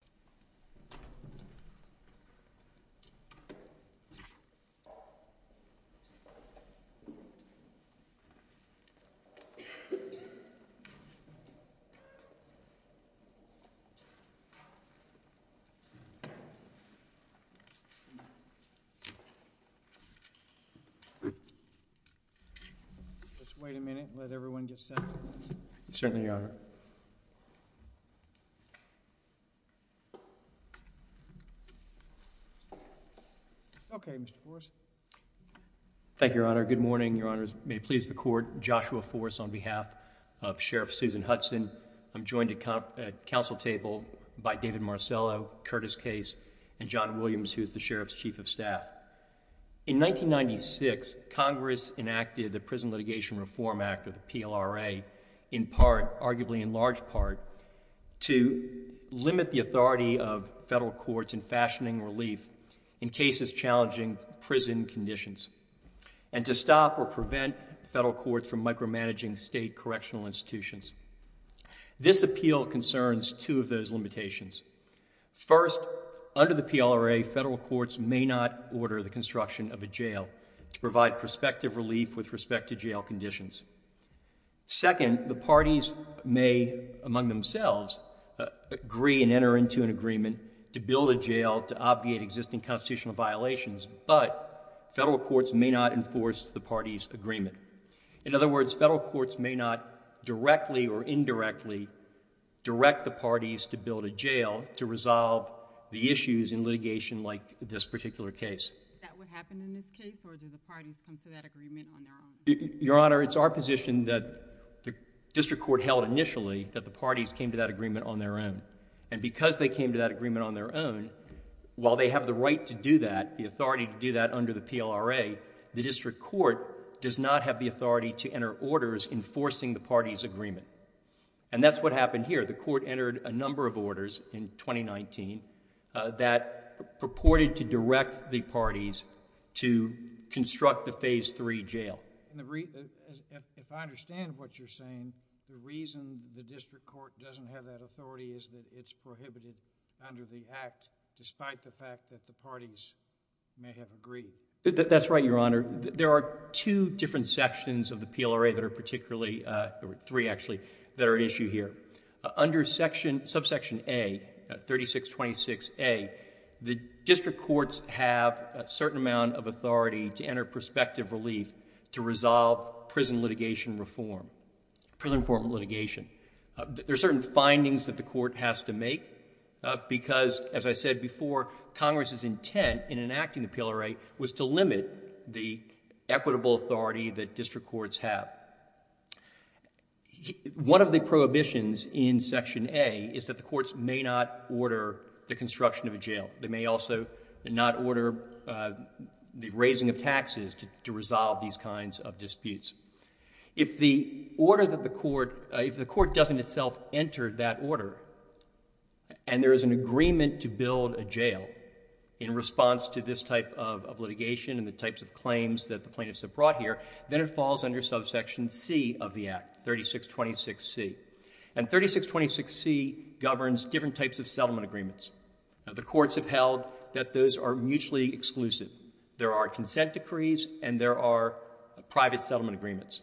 and the court's chief of staff, Joshua Forse, on behalf of Sheriff Susan Hudson, I'm joined at council table by David Marcello, Curtis Case, and John Williams, who is the sheriff's chief of staff. In 1996, Congress enacted the Prison Litigation Reform Act, or the PLRA, in part, arguably in large part, to limit the authority of federal courts in fashioning relief in cases challenging prison conditions, and to stop or prevent federal courts from micromanaging state correctional institutions. This appeal concerns two of those limitations. First, under the PLRA, federal courts may not order the construction of a jail to provide prospective relief with respect to jail conditions. Second, the parties may, among themselves, agree and enter into an agreement to build a jail to obviate existing constitutional violations, but federal courts may not enforce the party's agreement. In other words, federal courts may not directly or indirectly direct the parties to build a jail to resolve the issues in litigation like this particular case. Is that what happened in this case, or did the parties come to that agreement on their own? Your Honor, it's our position that the district court held initially that the parties came to that agreement on their own, and because they came to that agreement on their own, while they have the right to do that, the authority to do that under the PLRA, the district court does not have the authority to enter orders enforcing the party's agreement. And that's what happened here. The court entered a number of orders in 2019 that purported to direct the parties to construct a Phase III jail. If I understand what you're saying, the reason the district court doesn't have that authority is that it's prohibited under the Act, despite the fact that the parties may have agreed? That's right, Your Honor. There are two different sections of the PLRA that are particularly... three, actually, that are at issue here. Under subsection A, 3626A, the district courts have a certain amount of authority to enter perspective relief to resolve prison litigation reform, prison reform litigation. There are certain findings that the court has to make because, as I said before, Congress's intent in enacting the PLRA was to limit the equitable authority that district courts have. One of the prohibitions in section A is that the courts may not order the construction of a jail. They may also not order the raising of taxes to resolve these kinds of disputes. If the order that the court... if the court doesn't itself enter that order and there is an agreement to build a jail in response to this type of litigation and the types of claims that the plaintiffs have brought here, then it falls under subsection C of the Act, 3626C. And 3626C governs different types of settlement agreements. Now, the courts have held that those are mutually exclusive. There are consent decrees and there are private settlement agreements.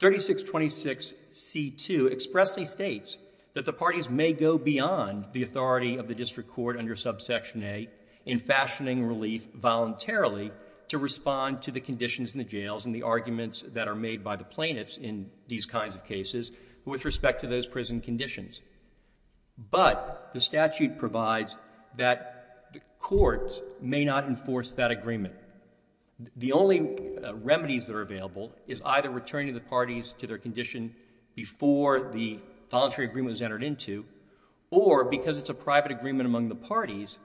3626C2 expressly states that the parties may go beyond the authority of the district court under subsection A in fashioning relief voluntarily to respond to the conditions in the jails and the arguments that are made by the plaintiffs in these kinds of cases with respect to those prison conditions. But the statute provides that the courts may not enforce that agreement. The only remedies that are available is either returning the parties to their condition before the voluntary agreement was entered into, or because it's a private agreement among the parties,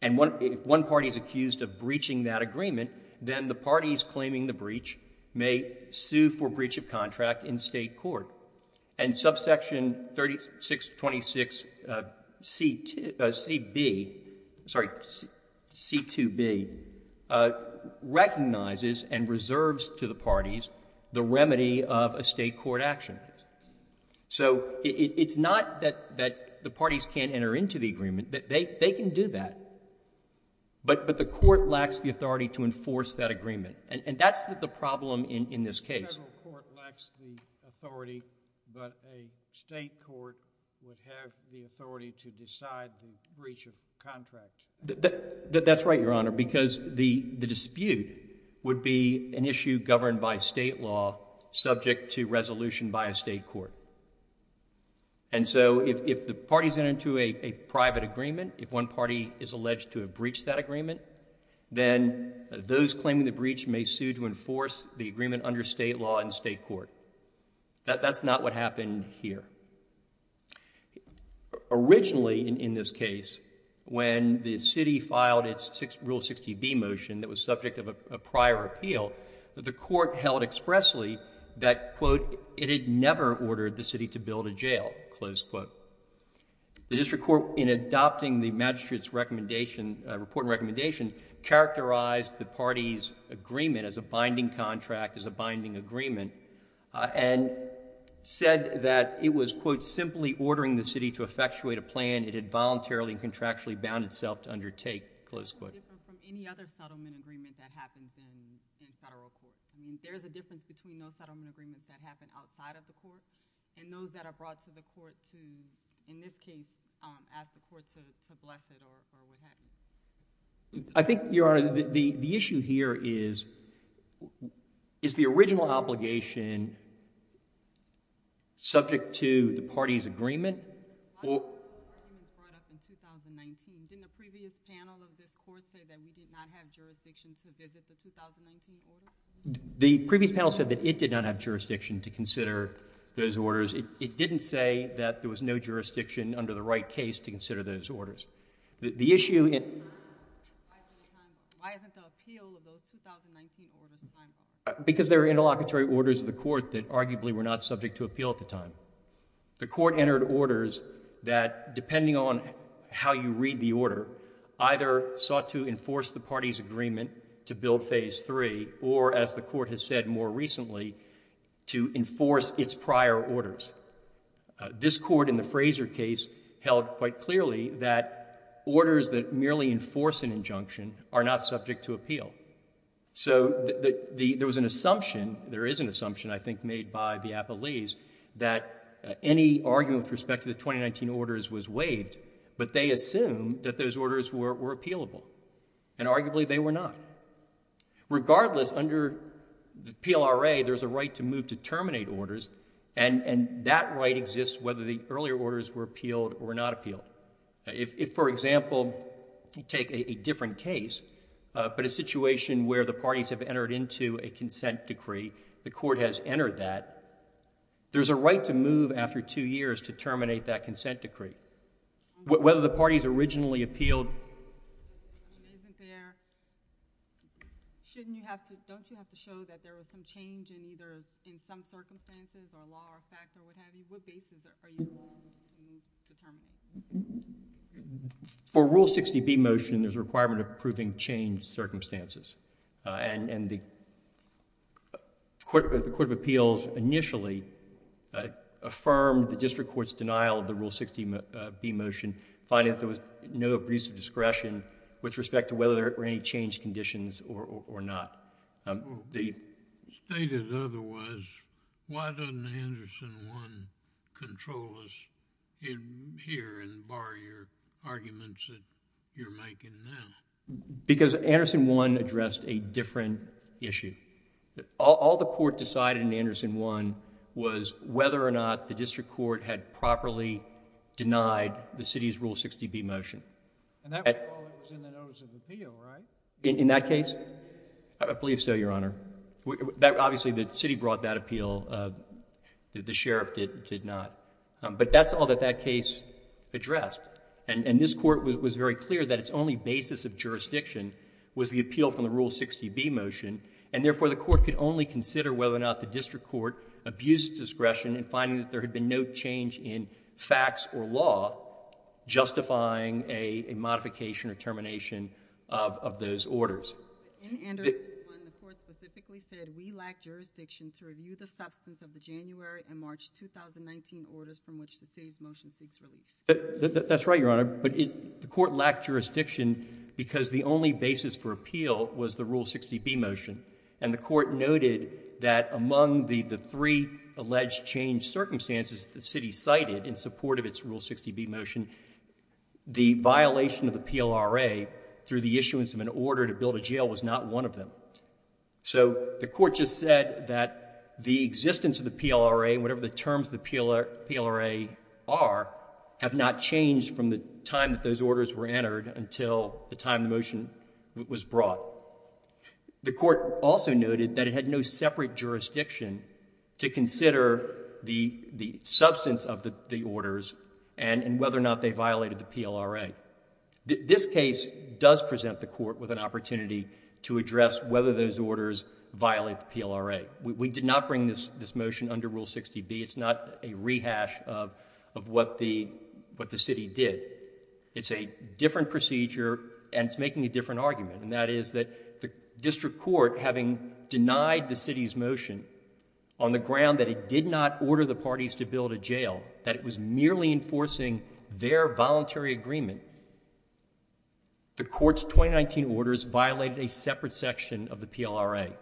and if one party is accused of breaching that agreement, then the parties claiming the breach may sue for breach of contract in state court. And subsection 3626C2B recognizes and reserves to the parties the remedy of a state court action. So it's not that the parties can't enter into the agreement, that they can do that. But the court lacks the authority to enforce that agreement. And that's the problem in this case. The federal court lacks the authority, but a state court would have the authority to decide the breach of contract. That's right, Your Honor, because the dispute would be an issue governed by state law subject to resolution by a state court. And so if the parties enter into a private agreement, if one party is alleged to have breached that agreement, then those claiming the breach may sue to enforce the agreement under state law and state court. That's not what happened here. Originally, in this case, when the city filed its Rule 60B motion that was subject of a prior appeal, the court held expressly that, quote, it had never ordered the city to build a jail, close quote. The district court, in adopting the magistrate's report and recommendation, characterized the party's agreement as a binding contract, as a binding agreement, and said that it was, quote, simply ordering the city to effectuate a plan it had voluntarily and contractually bound itself to undertake, close quote. What's different from any other settlement agreement that happens in federal court? I mean, there is a difference between those settlement agreements that happen outside of the court and those that are brought to the court to, in this case, ask the court to bless it or what have you. I think, Your Honor, the issue here is, is the original obligation subject to the party's agreement? The party's agreement was brought up in 2019. Didn't the previous panel of this court say that we did not have jurisdiction to visit the 2019 order? The previous panel said that it did not have jurisdiction to consider those orders. It didn't say that there was no jurisdiction under the right case to consider those orders. The issue in... Why isn't the appeal of those 2019 orders time-bound? Because there are interlocutory orders of the court that arguably were not subject to appeal at the time. The court entered orders that, depending on how you read the order, either sought to enforce the party's agreement to build phase three or, as the court has said more recently, to enforce its prior orders. This court, in the Fraser case, held quite clearly that orders that merely enforce an injunction are not subject to appeal. So, there was an assumption, there is an assumption, I think, made by the appellees, that any argument with respect to the 2019 orders was waived, but they assumed that those orders were appealable. And arguably, they were not. Regardless, under the PLRA, there's a right to move to terminate orders, and that right exists whether the earlier orders were appealed or not appealed. If, for example, you take a different case, but a situation where the parties have entered into a consent decree, the court has entered that, there's a right to move after two years to terminate that consent decree. Whether the parties originally appealed...... isn't there... shouldn't you have to... don't you have to show that there was some change in either... in some circumstances or law or fact or what have you? What basis are you willing to move to terminate? For Rule 60b motion, there's a requirement of proving changed circumstances. And the Court of Appeals initially affirmed the district court's denial of the Rule 60b motion, finding that there was no abuse of discretion with respect to whether there were any changed conditions or not. The... Stated otherwise, why doesn't Anderson 1 control us here and bar your arguments that you're making now? Because Anderson 1 addressed a different issue. All the court decided in Anderson 1 was whether or not the district court had properly denied the city's Rule 60b motion. And that was in the notice of appeal, right? In that case? I believe so, Your Honor. Obviously, the city brought that appeal. The sheriff did not. But that's all that that case addressed. And this court was very clear that its only basis of jurisdiction was the appeal from the Rule 60b motion. And therefore, the court could only consider whether or not the district court abused discretion in finding that there had been no change in facts or law justifying a modification or termination of those orders. In Anderson 1, the court specifically said, we lack jurisdiction to review the substance of the January and March 2019 orders from which the city's motion seeks relief. That's right, Your Honor. But the court lacked jurisdiction because the only basis for appeal was the Rule 60b motion. And the court noted that among the three alleged changed circumstances the city cited in support of its Rule 60b motion, the violation of the PLRA through the issuance of an order to build a jail was not one of them. So the court just said that the existence of the PLRA, whatever the terms of the PLRA are, have not changed from the time that those orders were entered until the time the motion was brought. The court also noted that it had no separate jurisdiction to consider the substance of the orders and whether or not they violated the PLRA. This case does present the court with an opportunity to address whether those orders violate the PLRA. We did not bring this motion under Rule 60b. It's not a rehash of what the city did. It's a different procedure, and it's making a different argument, and that is that the district court, having denied the city's motion on the ground that it did not order the parties to build a jail, that it was merely enforcing their voluntary agreement, the court's 2019 orders violated a separate section of the PLRA.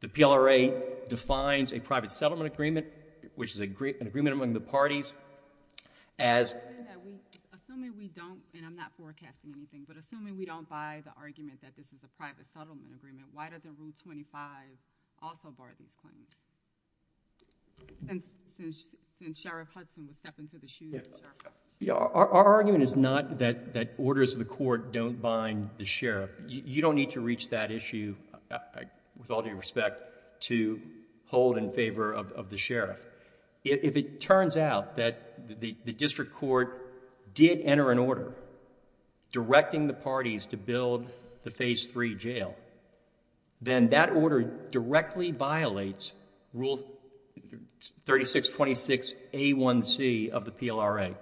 The PLRA defines a private settlement agreement, which is an agreement among the parties, as... Assuming we don't, and I'm not forecasting anything, but assuming we don't buy the argument that this is a private settlement agreement, why doesn't Rule 25 also bar these claims, since Sheriff Hudson would step into the shoes of Sheriff Hudson? Our argument is not that orders of the court don't bind the sheriff. You don't need to reach that issue, with all due respect, to hold in favor of the sheriff. If it turns out that the district court did enter an order directing the parties to build the Phase 3 jail, then that order directly violates Rule 3626a1c of the PLRA.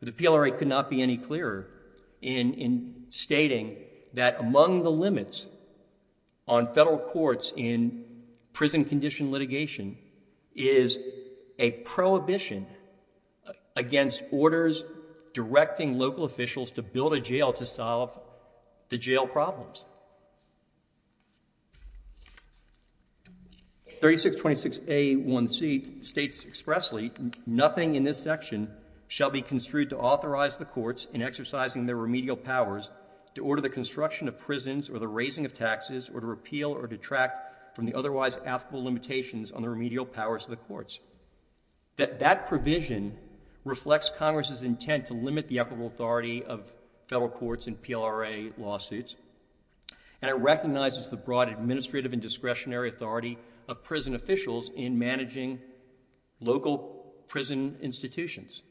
The PLRA could not be any clearer in stating that among the limits on federal courts in prison condition litigation is a prohibition against orders directing local officials to build a jail to solve the jail problems. 3626a1c states expressly, nothing in this section shall be construed to authorize the courts in exercising their remedial powers to order the construction of prisons or the raising of taxes or to repeal or detract from the otherwise affable limitations on the remedial powers of the courts. That that provision reflects Congress's intent to limit the equitable authority of federal courts in PLRA lawsuits, and it recognizes the broad administrative and discretionary authority of prison officials in managing local prison institutions.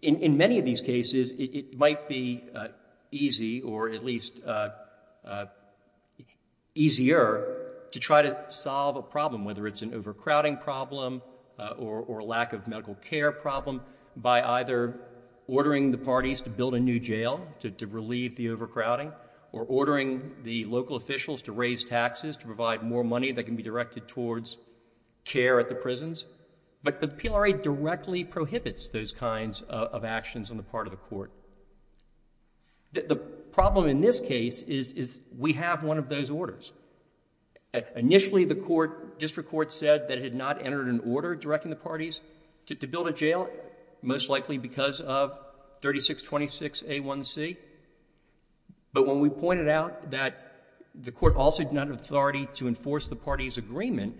In many of these cases, it might be easy, or at least easier, to try to solve a problem, whether it's an overcrowding problem or a lack of medical care problem, by either ordering the parties to build a new jail to relieve the overcrowding or ordering the local officials to raise taxes to provide more money that can be directed towards care at the prisons. But the PLRA directly prohibits those kinds of actions on the part of the court. The problem in this case is we have one of those orders. Initially, the district court said that it had not entered an order directing the parties to build a jail, most likely because of 3626A1C. But when we pointed out that the court also did not have the authority to enforce the parties' agreement,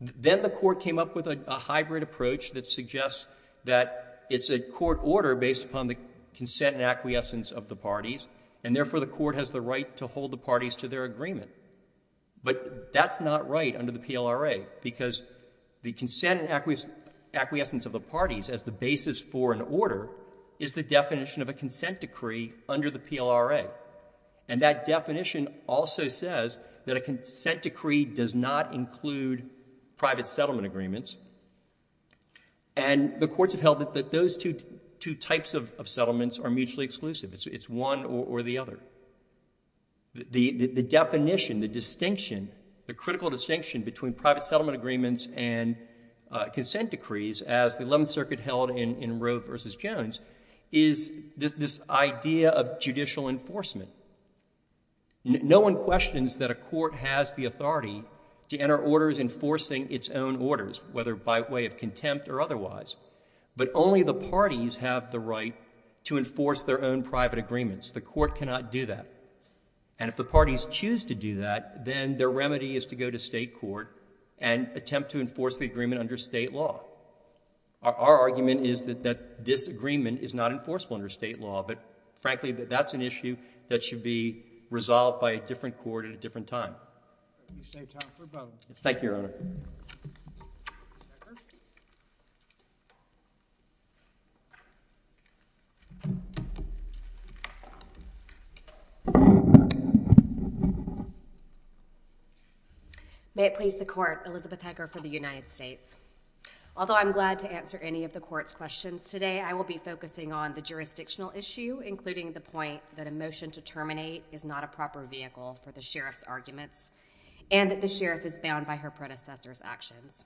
then the court came up with a hybrid approach that suggests that it's a court order based upon the consent and acquiescence of the parties, and therefore the court has the right to hold the parties to their agreement. But that's not right under the PLRA, because the consent and acquiescence of the parties as the basis for an order is the definition of a consent decree under the PLRA. And that definition also says that a consent decree does not include private settlement agreements. And the courts have held that those two types of settlements are mutually exclusive. It's one or the other. The definition, the distinction, the critical distinction between private settlement agreements and consent decrees, as the Eleventh Circuit held in Roe v. Jones, is this idea of judicial enforcement. No one questions that a court has the authority to enter orders enforcing its own orders, whether by way of contempt or otherwise. But only the parties have the right to enforce their own private agreements. The court cannot do that. And if the parties choose to do that, then their remedy is to go to state court and attempt to enforce the agreement under state law. Our argument is that this agreement is not enforceable under state law, but, frankly, that's an issue that should be resolved by a different court at a different time. Thank you, Your Honor. May it please the Court. Elizabeth Hecker for the United States. Although I'm glad to answer any of the Court's questions today, I will be focusing on the jurisdictional issue, including the point that a motion to terminate is not a proper vehicle for the sheriff's arguments and that the sheriff is bound by her predecessor's actions.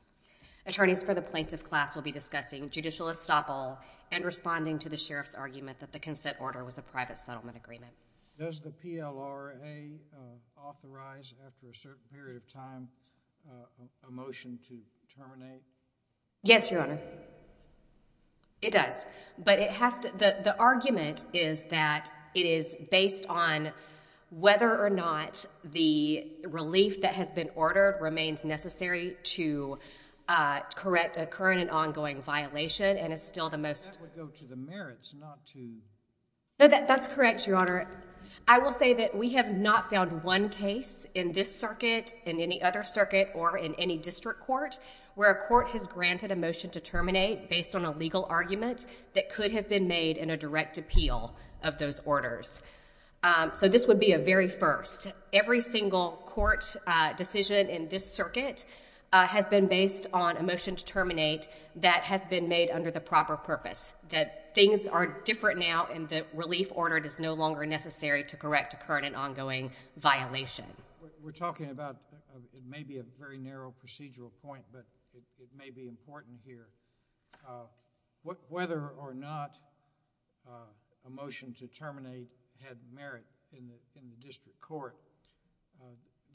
Attorneys for the plaintiff class will be discussing judicial estoppel and responding to the sheriff's argument that the consent order was a private settlement agreement. Does the PLRA authorize, after a certain period of time, a motion to terminate? Yes, Your Honor. It does. The argument is that it is based on whether or not the relief that has been ordered remains necessary to correct a current and ongoing violation and is still the most... That would go to the merits, not to... That's correct, Your Honor. I will say that we have not found one case in this circuit, in any other circuit, or in any district court, where a court has granted a motion to terminate based on a legal argument that could have been made in a direct appeal of those orders. So this would be a very first. Every single court decision in this circuit has been based on a motion to terminate that has been made under the proper purpose, that things are different now and the relief ordered is no longer necessary to correct a current and ongoing violation. We're talking about... It may be a very narrow procedural point, but it may be important here. Whether or not a motion to terminate had merit in the district court,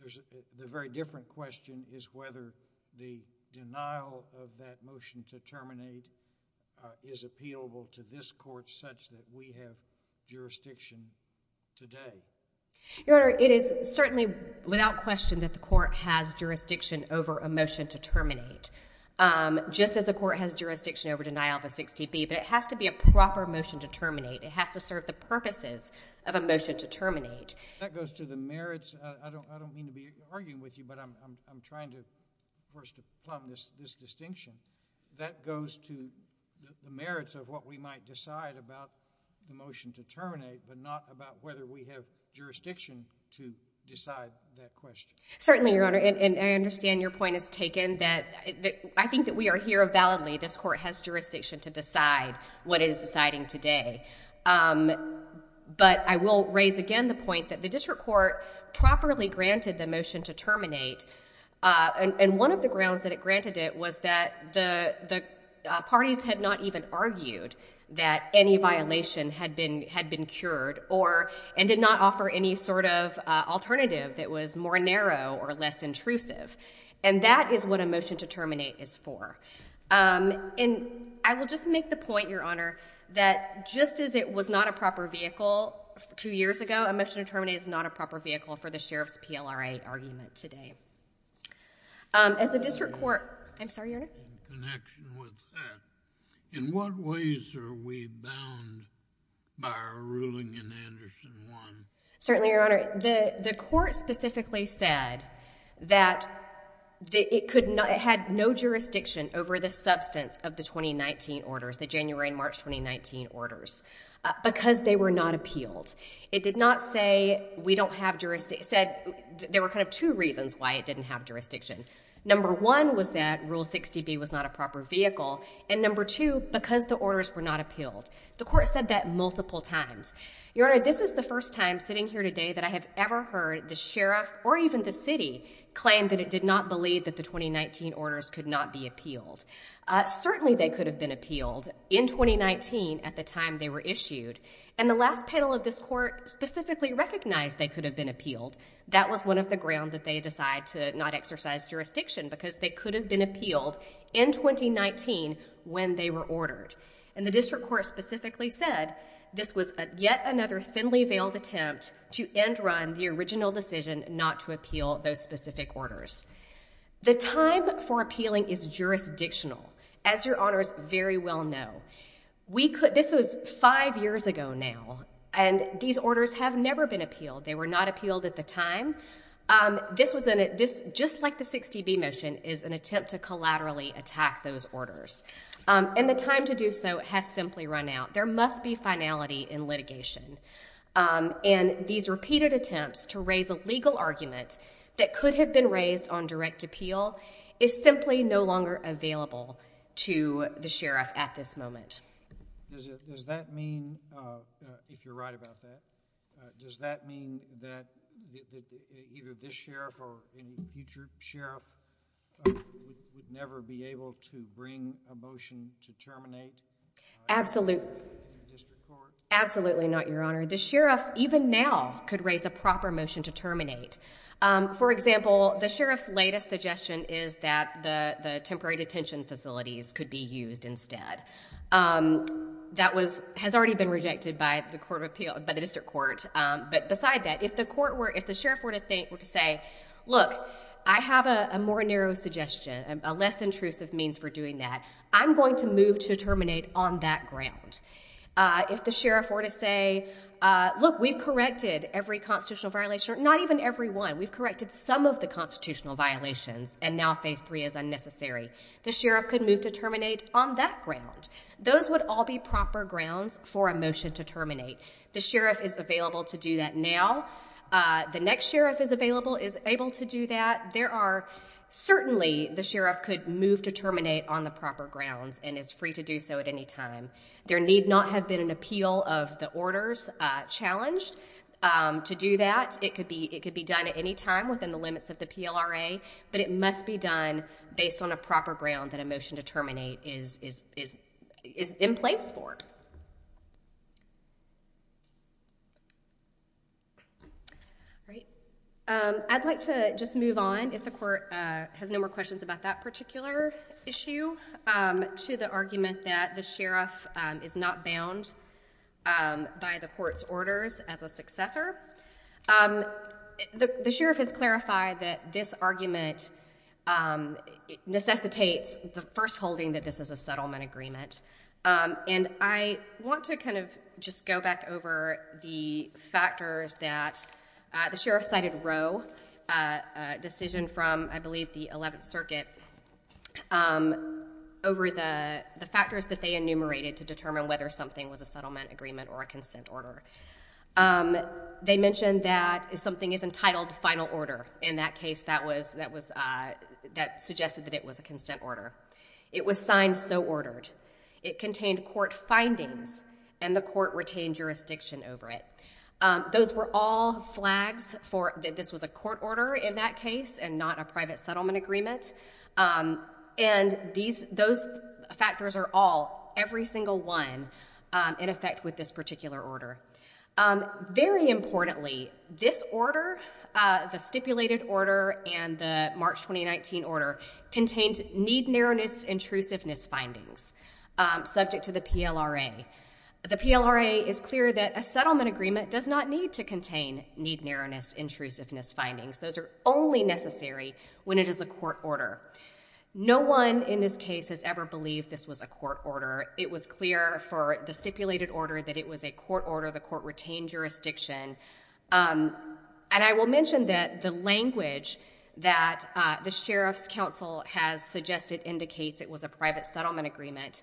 the very different question is whether the denial of that motion to terminate is appealable to this court such that we have jurisdiction today. Your Honor, it is certainly without question that the court has jurisdiction over a motion to terminate, just as the court has jurisdiction over denial of a 6TB, but it has to be a proper motion to terminate. It has to serve the purposes of a motion to terminate. That goes to the merits. I don't mean to be arguing with you, but I'm trying to, of course, to plumb this distinction. That goes to the merits of what we might decide about the motion to terminate, but not about whether we have jurisdiction to decide that question. Certainly, Your Honor, and I understand your point is taken. I think that we are here validly. This court has jurisdiction to decide what it is deciding today. But I will raise again the point that the district court properly granted the motion to terminate, and one of the grounds that it granted it was that the parties had not even argued that any violation had been cured and did not offer any sort of alternative that was more narrow or less intrusive. And that is what a motion to terminate is for. And I will just make the point, Your Honor, that just as it was not a proper vehicle two years ago, a motion to terminate is not a proper vehicle for the sheriff's PLRA argument today. As the district court... I'm sorry, Your Honor? In connection with that, in what ways are we bound by our ruling in Anderson 1? Certainly, Your Honor. The court specifically said that it had no jurisdiction over the substance of the 2019 orders, the January and March 2019 orders, because they were not appealed. It did not say we don't have jurisdiction. It said there were kind of two reasons why it didn't have jurisdiction. Number one was that Rule 60B was not a proper vehicle, and number two, because the orders were not appealed. The court said that multiple times. Your Honor, this is the first time sitting here today that I have ever heard the sheriff or even the city claim that it did not believe that the 2019 orders could not be appealed. Certainly they could have been appealed in 2019 at the time they were issued. And the last panel of this court specifically recognized they could have been appealed. That was one of the grounds that they decide to not exercise jurisdiction, because they could have been appealed in 2019 when they were ordered. And the district court specifically said this was yet another thinly veiled attempt to end run the original decision not to appeal those specific orders. The time for appealing is jurisdictional, as Your Honors very well know. This was five years ago now, and these orders have never been appealed. They were not appealed at the time. This, just like the 60B motion, is an attempt to collaterally attack those orders. And the time to do so has simply run out. There must be finality in litigation. And these repeated attempts to raise a legal argument that could have been raised on direct appeal is simply no longer available to the sheriff at this moment. Does that mean, if you're right about that, does that mean that either this sheriff or any future sheriff would never be able to bring a motion to terminate? Absolutely not, Your Honor. The sheriff, even now, could raise a proper motion to terminate. For example, the sheriff's latest suggestion is that the temporary detention facilities could be used instead. That has already been rejected by the district court. But beside that, if the sheriff were to say, look, I have a more narrow suggestion, a less intrusive means for doing that, I'm going to move to terminate on that ground. If the sheriff were to say, look, we've corrected every constitutional violation, or not even every one. We've corrected some of the constitutional violations, and now phase three is unnecessary. The sheriff could move to terminate on that ground. Those would all be proper grounds for a motion to terminate. The sheriff is available to do that now. The next sheriff is available, is able to do that. There are, certainly, the sheriff could move to terminate on the proper grounds, and is free to do so at any time. There need not have been an appeal of the orders challenged to do that. It could be done at any time within the limits of the PLRA, but it must be done based on a proper ground that a motion to terminate is in place for. I'd like to just move on, if the court has no more questions about that particular issue, to the argument that the sheriff is not bound by the court's orders as a successor. The sheriff has clarified that this argument necessitates the first holding that this is a settlement agreement, and I want to kind of just go back over the factors that the sheriff cited Roe, a decision from, I believe, the 11th Circuit, over the factors that they enumerated to determine whether something was a settlement agreement or a consent order. They mentioned that something is entitled final order. In that case, that suggested that it was a consent order. It was signed so ordered. It contained court findings, and the court retained jurisdiction over it. Those were all flags that this was a court order in that case and not a private settlement agreement, and those factors are all, every single one, in effect with this particular order. Very importantly, this order, the stipulated order and the March 2019 order, contained need-narrowness intrusiveness findings subject to the PLRA. The PLRA is clear that a settlement agreement does not need to contain need-narrowness intrusiveness findings. Those are only necessary when it is a court order. No one in this case has ever believed this was a court order. It was clear for the stipulated order that it was a court order. The court retained jurisdiction. And I will mention that the language that the Sheriff's Counsel has suggested indicates it was a private settlement agreement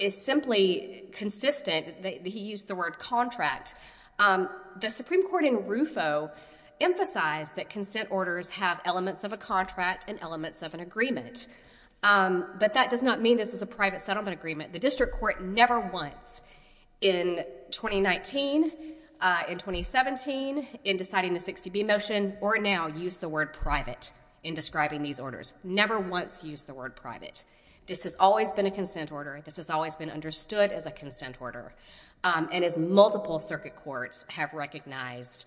is simply consistent. He used the word contract. The Supreme Court in RUFO emphasized that consent orders have elements of a contract and elements of an agreement, but that does not mean this was a private settlement agreement. The district court never once in 2019, in 2017, in deciding the 60B motion, or now, used the word private in describing these orders. Never once used the word private. This has always been a consent order. This has always been understood as a consent order. And as multiple circuit courts have recognized,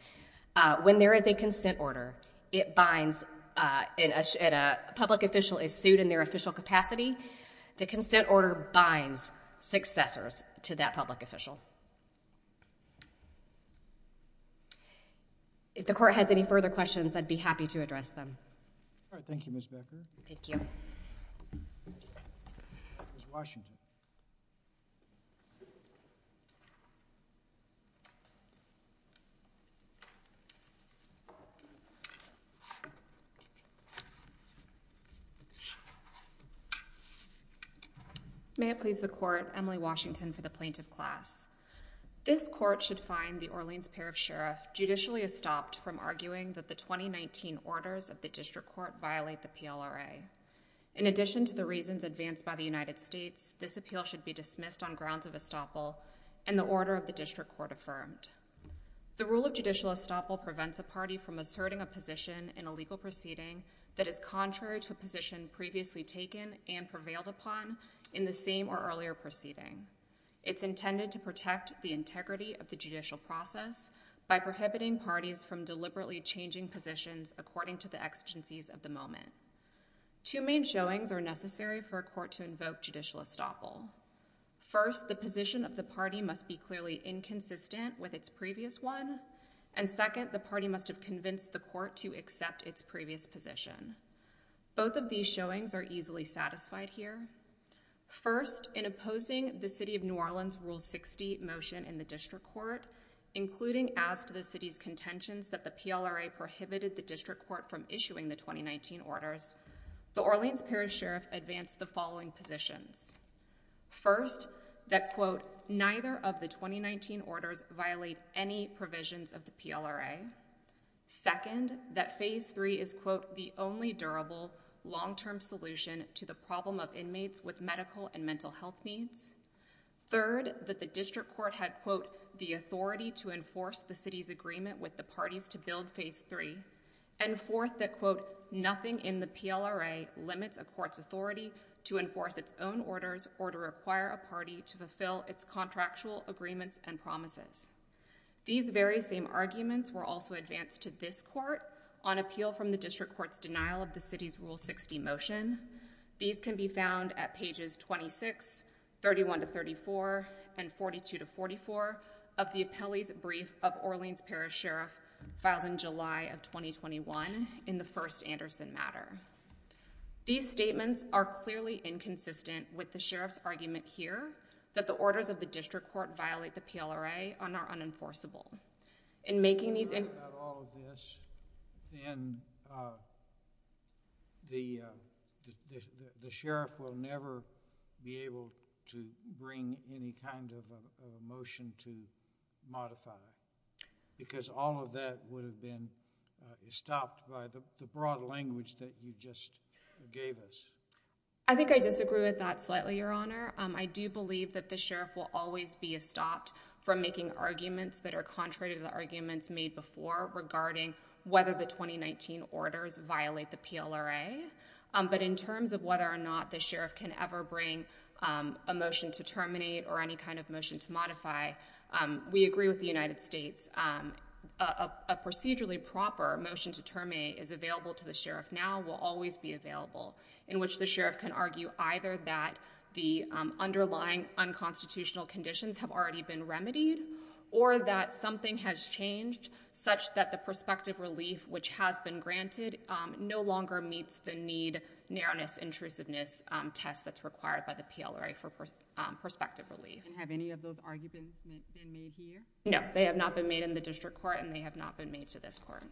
when there is a consent order, it binds, and a public official is sued in their official capacity, the consent order binds successors to that public official. If the court has any further questions, I'd be happy to address them. Thank you, Ms. Becker. Thank you. Ms. Washington. May it please the court, Emily Washington for the plaintiff class. This court should find the Orleans pair of sheriff judicially estopped from arguing that the 2019 orders of the district court violate the PLRA. In addition to the reasons advanced by the United States, this appeal should be dismissed on grounds of estoppel and the order of the district court affirmed. The rule of judicial estoppel prevents a party from asserting a position in a legal proceeding that is contrary to a position previously taken and prevailed upon in the same or earlier proceeding. It's intended to protect the integrity of the judicial process by prohibiting parties from deliberately changing positions according to the exigencies of the moment. Two main showings are necessary for a court to invoke judicial estoppel. First, the position of the party must be clearly inconsistent with its previous one. And second, the party must have convinced the court to accept its previous position. Both of these showings are easily satisfied here. First, in opposing the city of New Orleans rule 60 motion in the district court, including as to the city's contentions that the PLRA prohibited the district court from issuing the 2019 orders, the Orleans pair of sheriff advanced the following positions. First, that quote, neither of the 2019 orders violate any provisions of the PLRA. Second, that phase three is quote, the only durable long-term solution to the problem of inmates with medical and mental health needs. Third, that the district court had quote, the authority to enforce the city's agreement with the parties to build phase three. And fourth, that quote, nothing in the PLRA limits a court's authority to enforce its own orders or to require a party to fulfill its contractual agreements and promises. These very same arguments were also advanced to this court on appeal from the district court's denial of the city's rule 60 motion. These can be found at pages 26, 31 to 34 and 42 to 44 of the appellee's brief of Orleans pair of sheriff filed in July of 2021 in the first Anderson matter. These statements are clearly inconsistent with the sheriff's argument here that the orders of the district court violate the PLRA and are unenforceable. In making these... ...all of this, then the sheriff will never be able to bring any kind of a motion to modify it. Because all of that would have been stopped by the broad language that you just gave us. I think I disagree with that slightly, Your Honor. I do believe that the sheriff will always be stopped from making arguments that are contrary to the arguments made before regarding whether the 2019 orders violate the PLRA. But in terms of whether or not the sheriff can ever bring a motion to terminate or any kind of motion to modify, we agree with the United States. A procedurally proper motion to terminate is available to the sheriff now, will always be available, in which the sheriff can argue either that the underlying unconstitutional conditions have already been remedied or that something has changed such that the prospective relief which has been granted no longer meets the need, narrowness, intrusiveness test that's required by the PLRA for prospective relief. Have any of those arguments been made here? No, they have not been made in the district court and they have not been made to this court.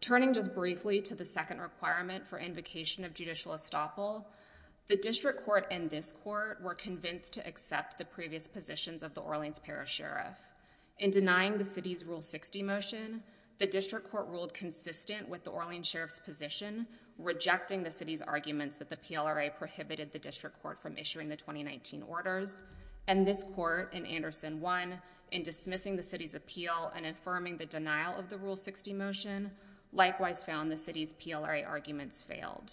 Turning just briefly to the second requirement for invocation of judicial estoppel, the district court and this court were convinced to accept the previous positions of the Orleans Parish Sheriff. In denying the city's Rule 60 motion, the district court ruled consistent with the Orleans Sheriff's position, rejecting the city's arguments that the PLRA prohibited the district court from issuing the 2019 orders. And this court, in Anderson 1, in dismissing the city's appeal and affirming the denial of the Rule 60 motion, likewise found the city's PLRA arguments failed.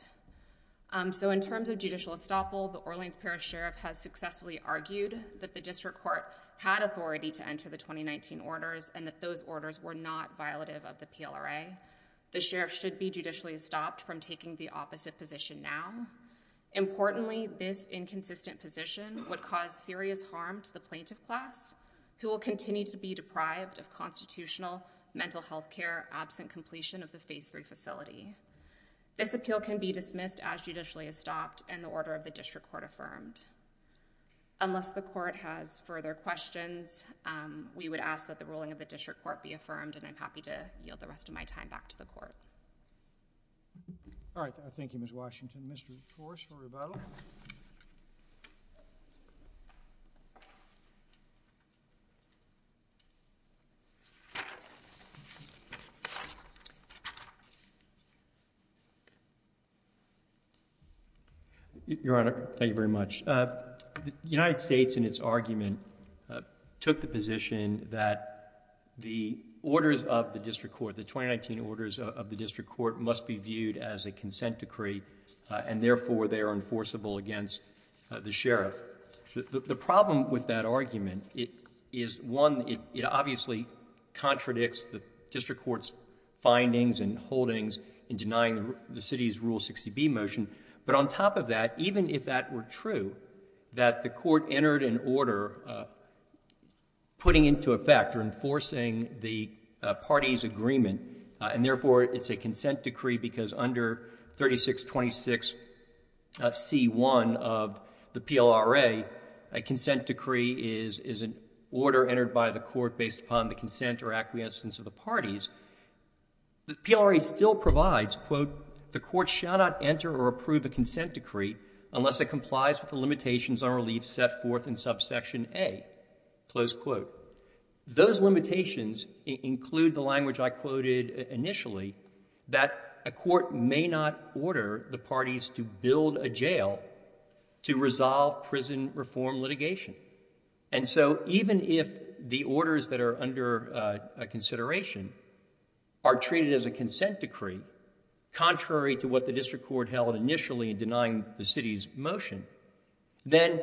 So in terms of judicial estoppel, the Orleans Parish Sheriff has successfully argued that the district court had authority to enter the 2019 orders and that those orders were not violative of the PLRA. The sheriff should be judicially estopped from taking the opposite position now. Importantly, this inconsistent position would cause serious harm to the plaintiff class who will continue to be deprived of constitutional mental health care absent completion of the Phase 3 facility. This appeal can be dismissed as judicially estopped and the order of the district court affirmed. Unless the court has further questions, we would ask that the ruling of the district court be affirmed and I'm happy to yield the rest of my time back to the court. All right. Thank you, Ms. Washington. Mr. Torres for rebuttal. Your Honor, thank you very much. The United States in its argument took the position that the orders of the district court, the 2019 orders of the district court must be viewed as a consent decree and therefore they are enforceable against the sheriff. The problem with that argument is one, it obviously contradicts the district court's findings and holdings in denying the city's Rule 60B motion, but on top of that even if that were true that the court entered an order putting into effect or enforcing the party's agreement and therefore it's a consent decree because under 3626 C1 of the PLRA, a consent decree is an order entered by the court based upon the consent or acquiescence of the parties. The PLRA still provides quote, the court shall not enter or approve a consent decree unless it complies with the limitations on relief set forth in subsection a close quote. Those limitations include the language I quoted initially that a court may not order the parties to build a jail to resolve prison reform litigation and so even if the orders that are under consideration are treated as a consent decree contrary to what the district court held initially in denying the city's motion, then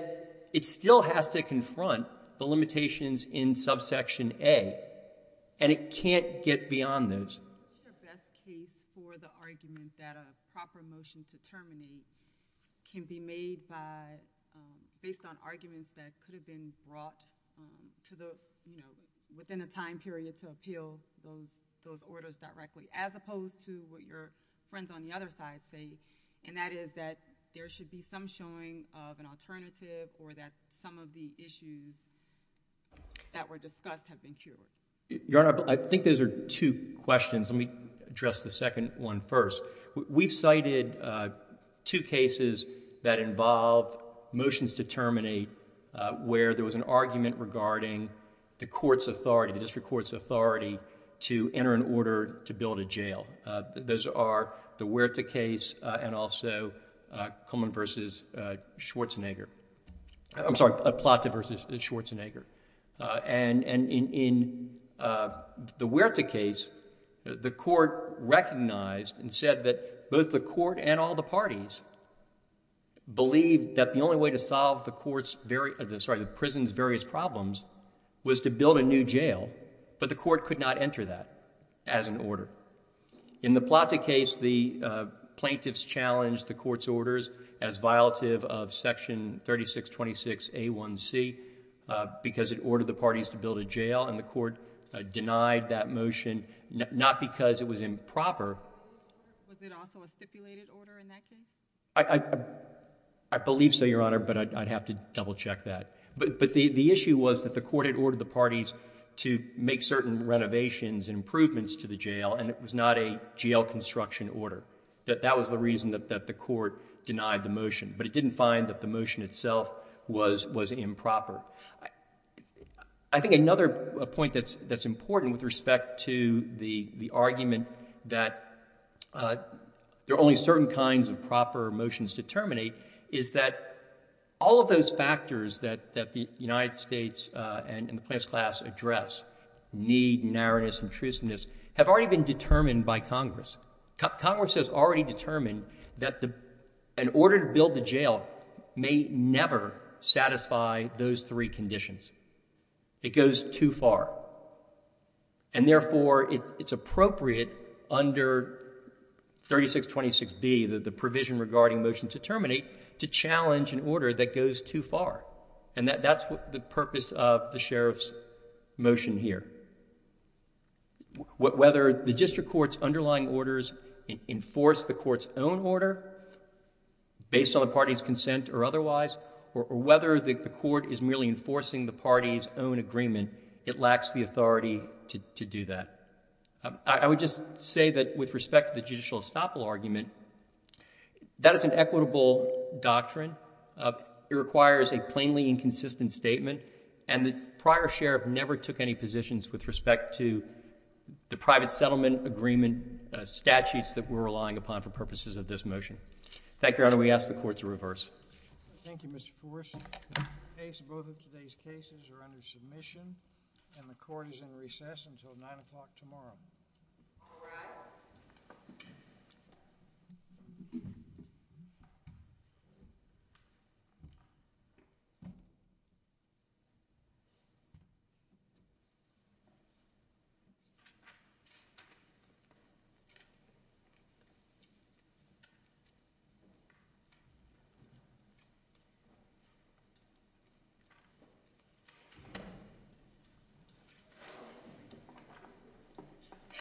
it still has to confront the limitations in subsection a and it can't get beyond those. What's the best case for the argument that a proper motion to terminate can be made by based on arguments that could have been brought to the you know, within a time period to appeal those orders directly as opposed to what your friends on the other side say and that is that there should be some showing of an alternative or that some of the issues that were discussed have been cured. Your Honor, I think those are two questions. Let me address the second one first. We've cited two cases that involve motions to terminate where there was an argument regarding the court's authority, the district court's authority to enter an order to build a jail. Those are the Huerta case and also Plata versus Schwarzenegger and in the Huerta case, the court recognized and said that both the court and all the parties believed that the only way to solve the prison's various problems was to build a new jail but the court could not enter that as an order. In the Plata case, the plaintiffs challenged the court's orders as violative of section 3626A1C because it ordered the parties to build a jail and the court denied that motion, not because it was improper. Was it also a stipulated order in that case? I believe so, Your Honor, but I'd have to double check that. But the issue was that the court had ordered the parties to make certain renovations and improvements to the jail and it was not a jail construction order. That was the reason that the court denied the motion, but it didn't find that the motion itself was improper. I think another point that's important with respect to the argument that there are only certain kinds of proper motions to terminate is that all of those factors that the United States and the plaintiff's class address need, narrowness, intrusiveness have already been determined by Congress. Congress has already determined that an order to build the jail may never satisfy those three conditions. It goes too far. And therefore, it's appropriate under 3626B, the provision regarding motion to terminate, to challenge an order that goes too far. And that's the purpose of the Sheriff's motion here. Whether the district court's underlying orders enforce the court's own order based on the party's consent or otherwise or whether the court is merely enforcing the party's own agreement, it lacks the authority to do that. I would just say that with respect to the judicial estoppel argument, that is an equitable doctrine. It requires a plainly inconsistent statement, and the prior Sheriff never took any positions with respect to the private settlement agreement statutes that we're relying upon for purposes of this motion. Thank you, Your Honor. We ask the Court to reverse. Thank you, Mr. Forrest. Both of today's cases are under submission, and the Court is in recess until 9 o'clock tomorrow. Thank you.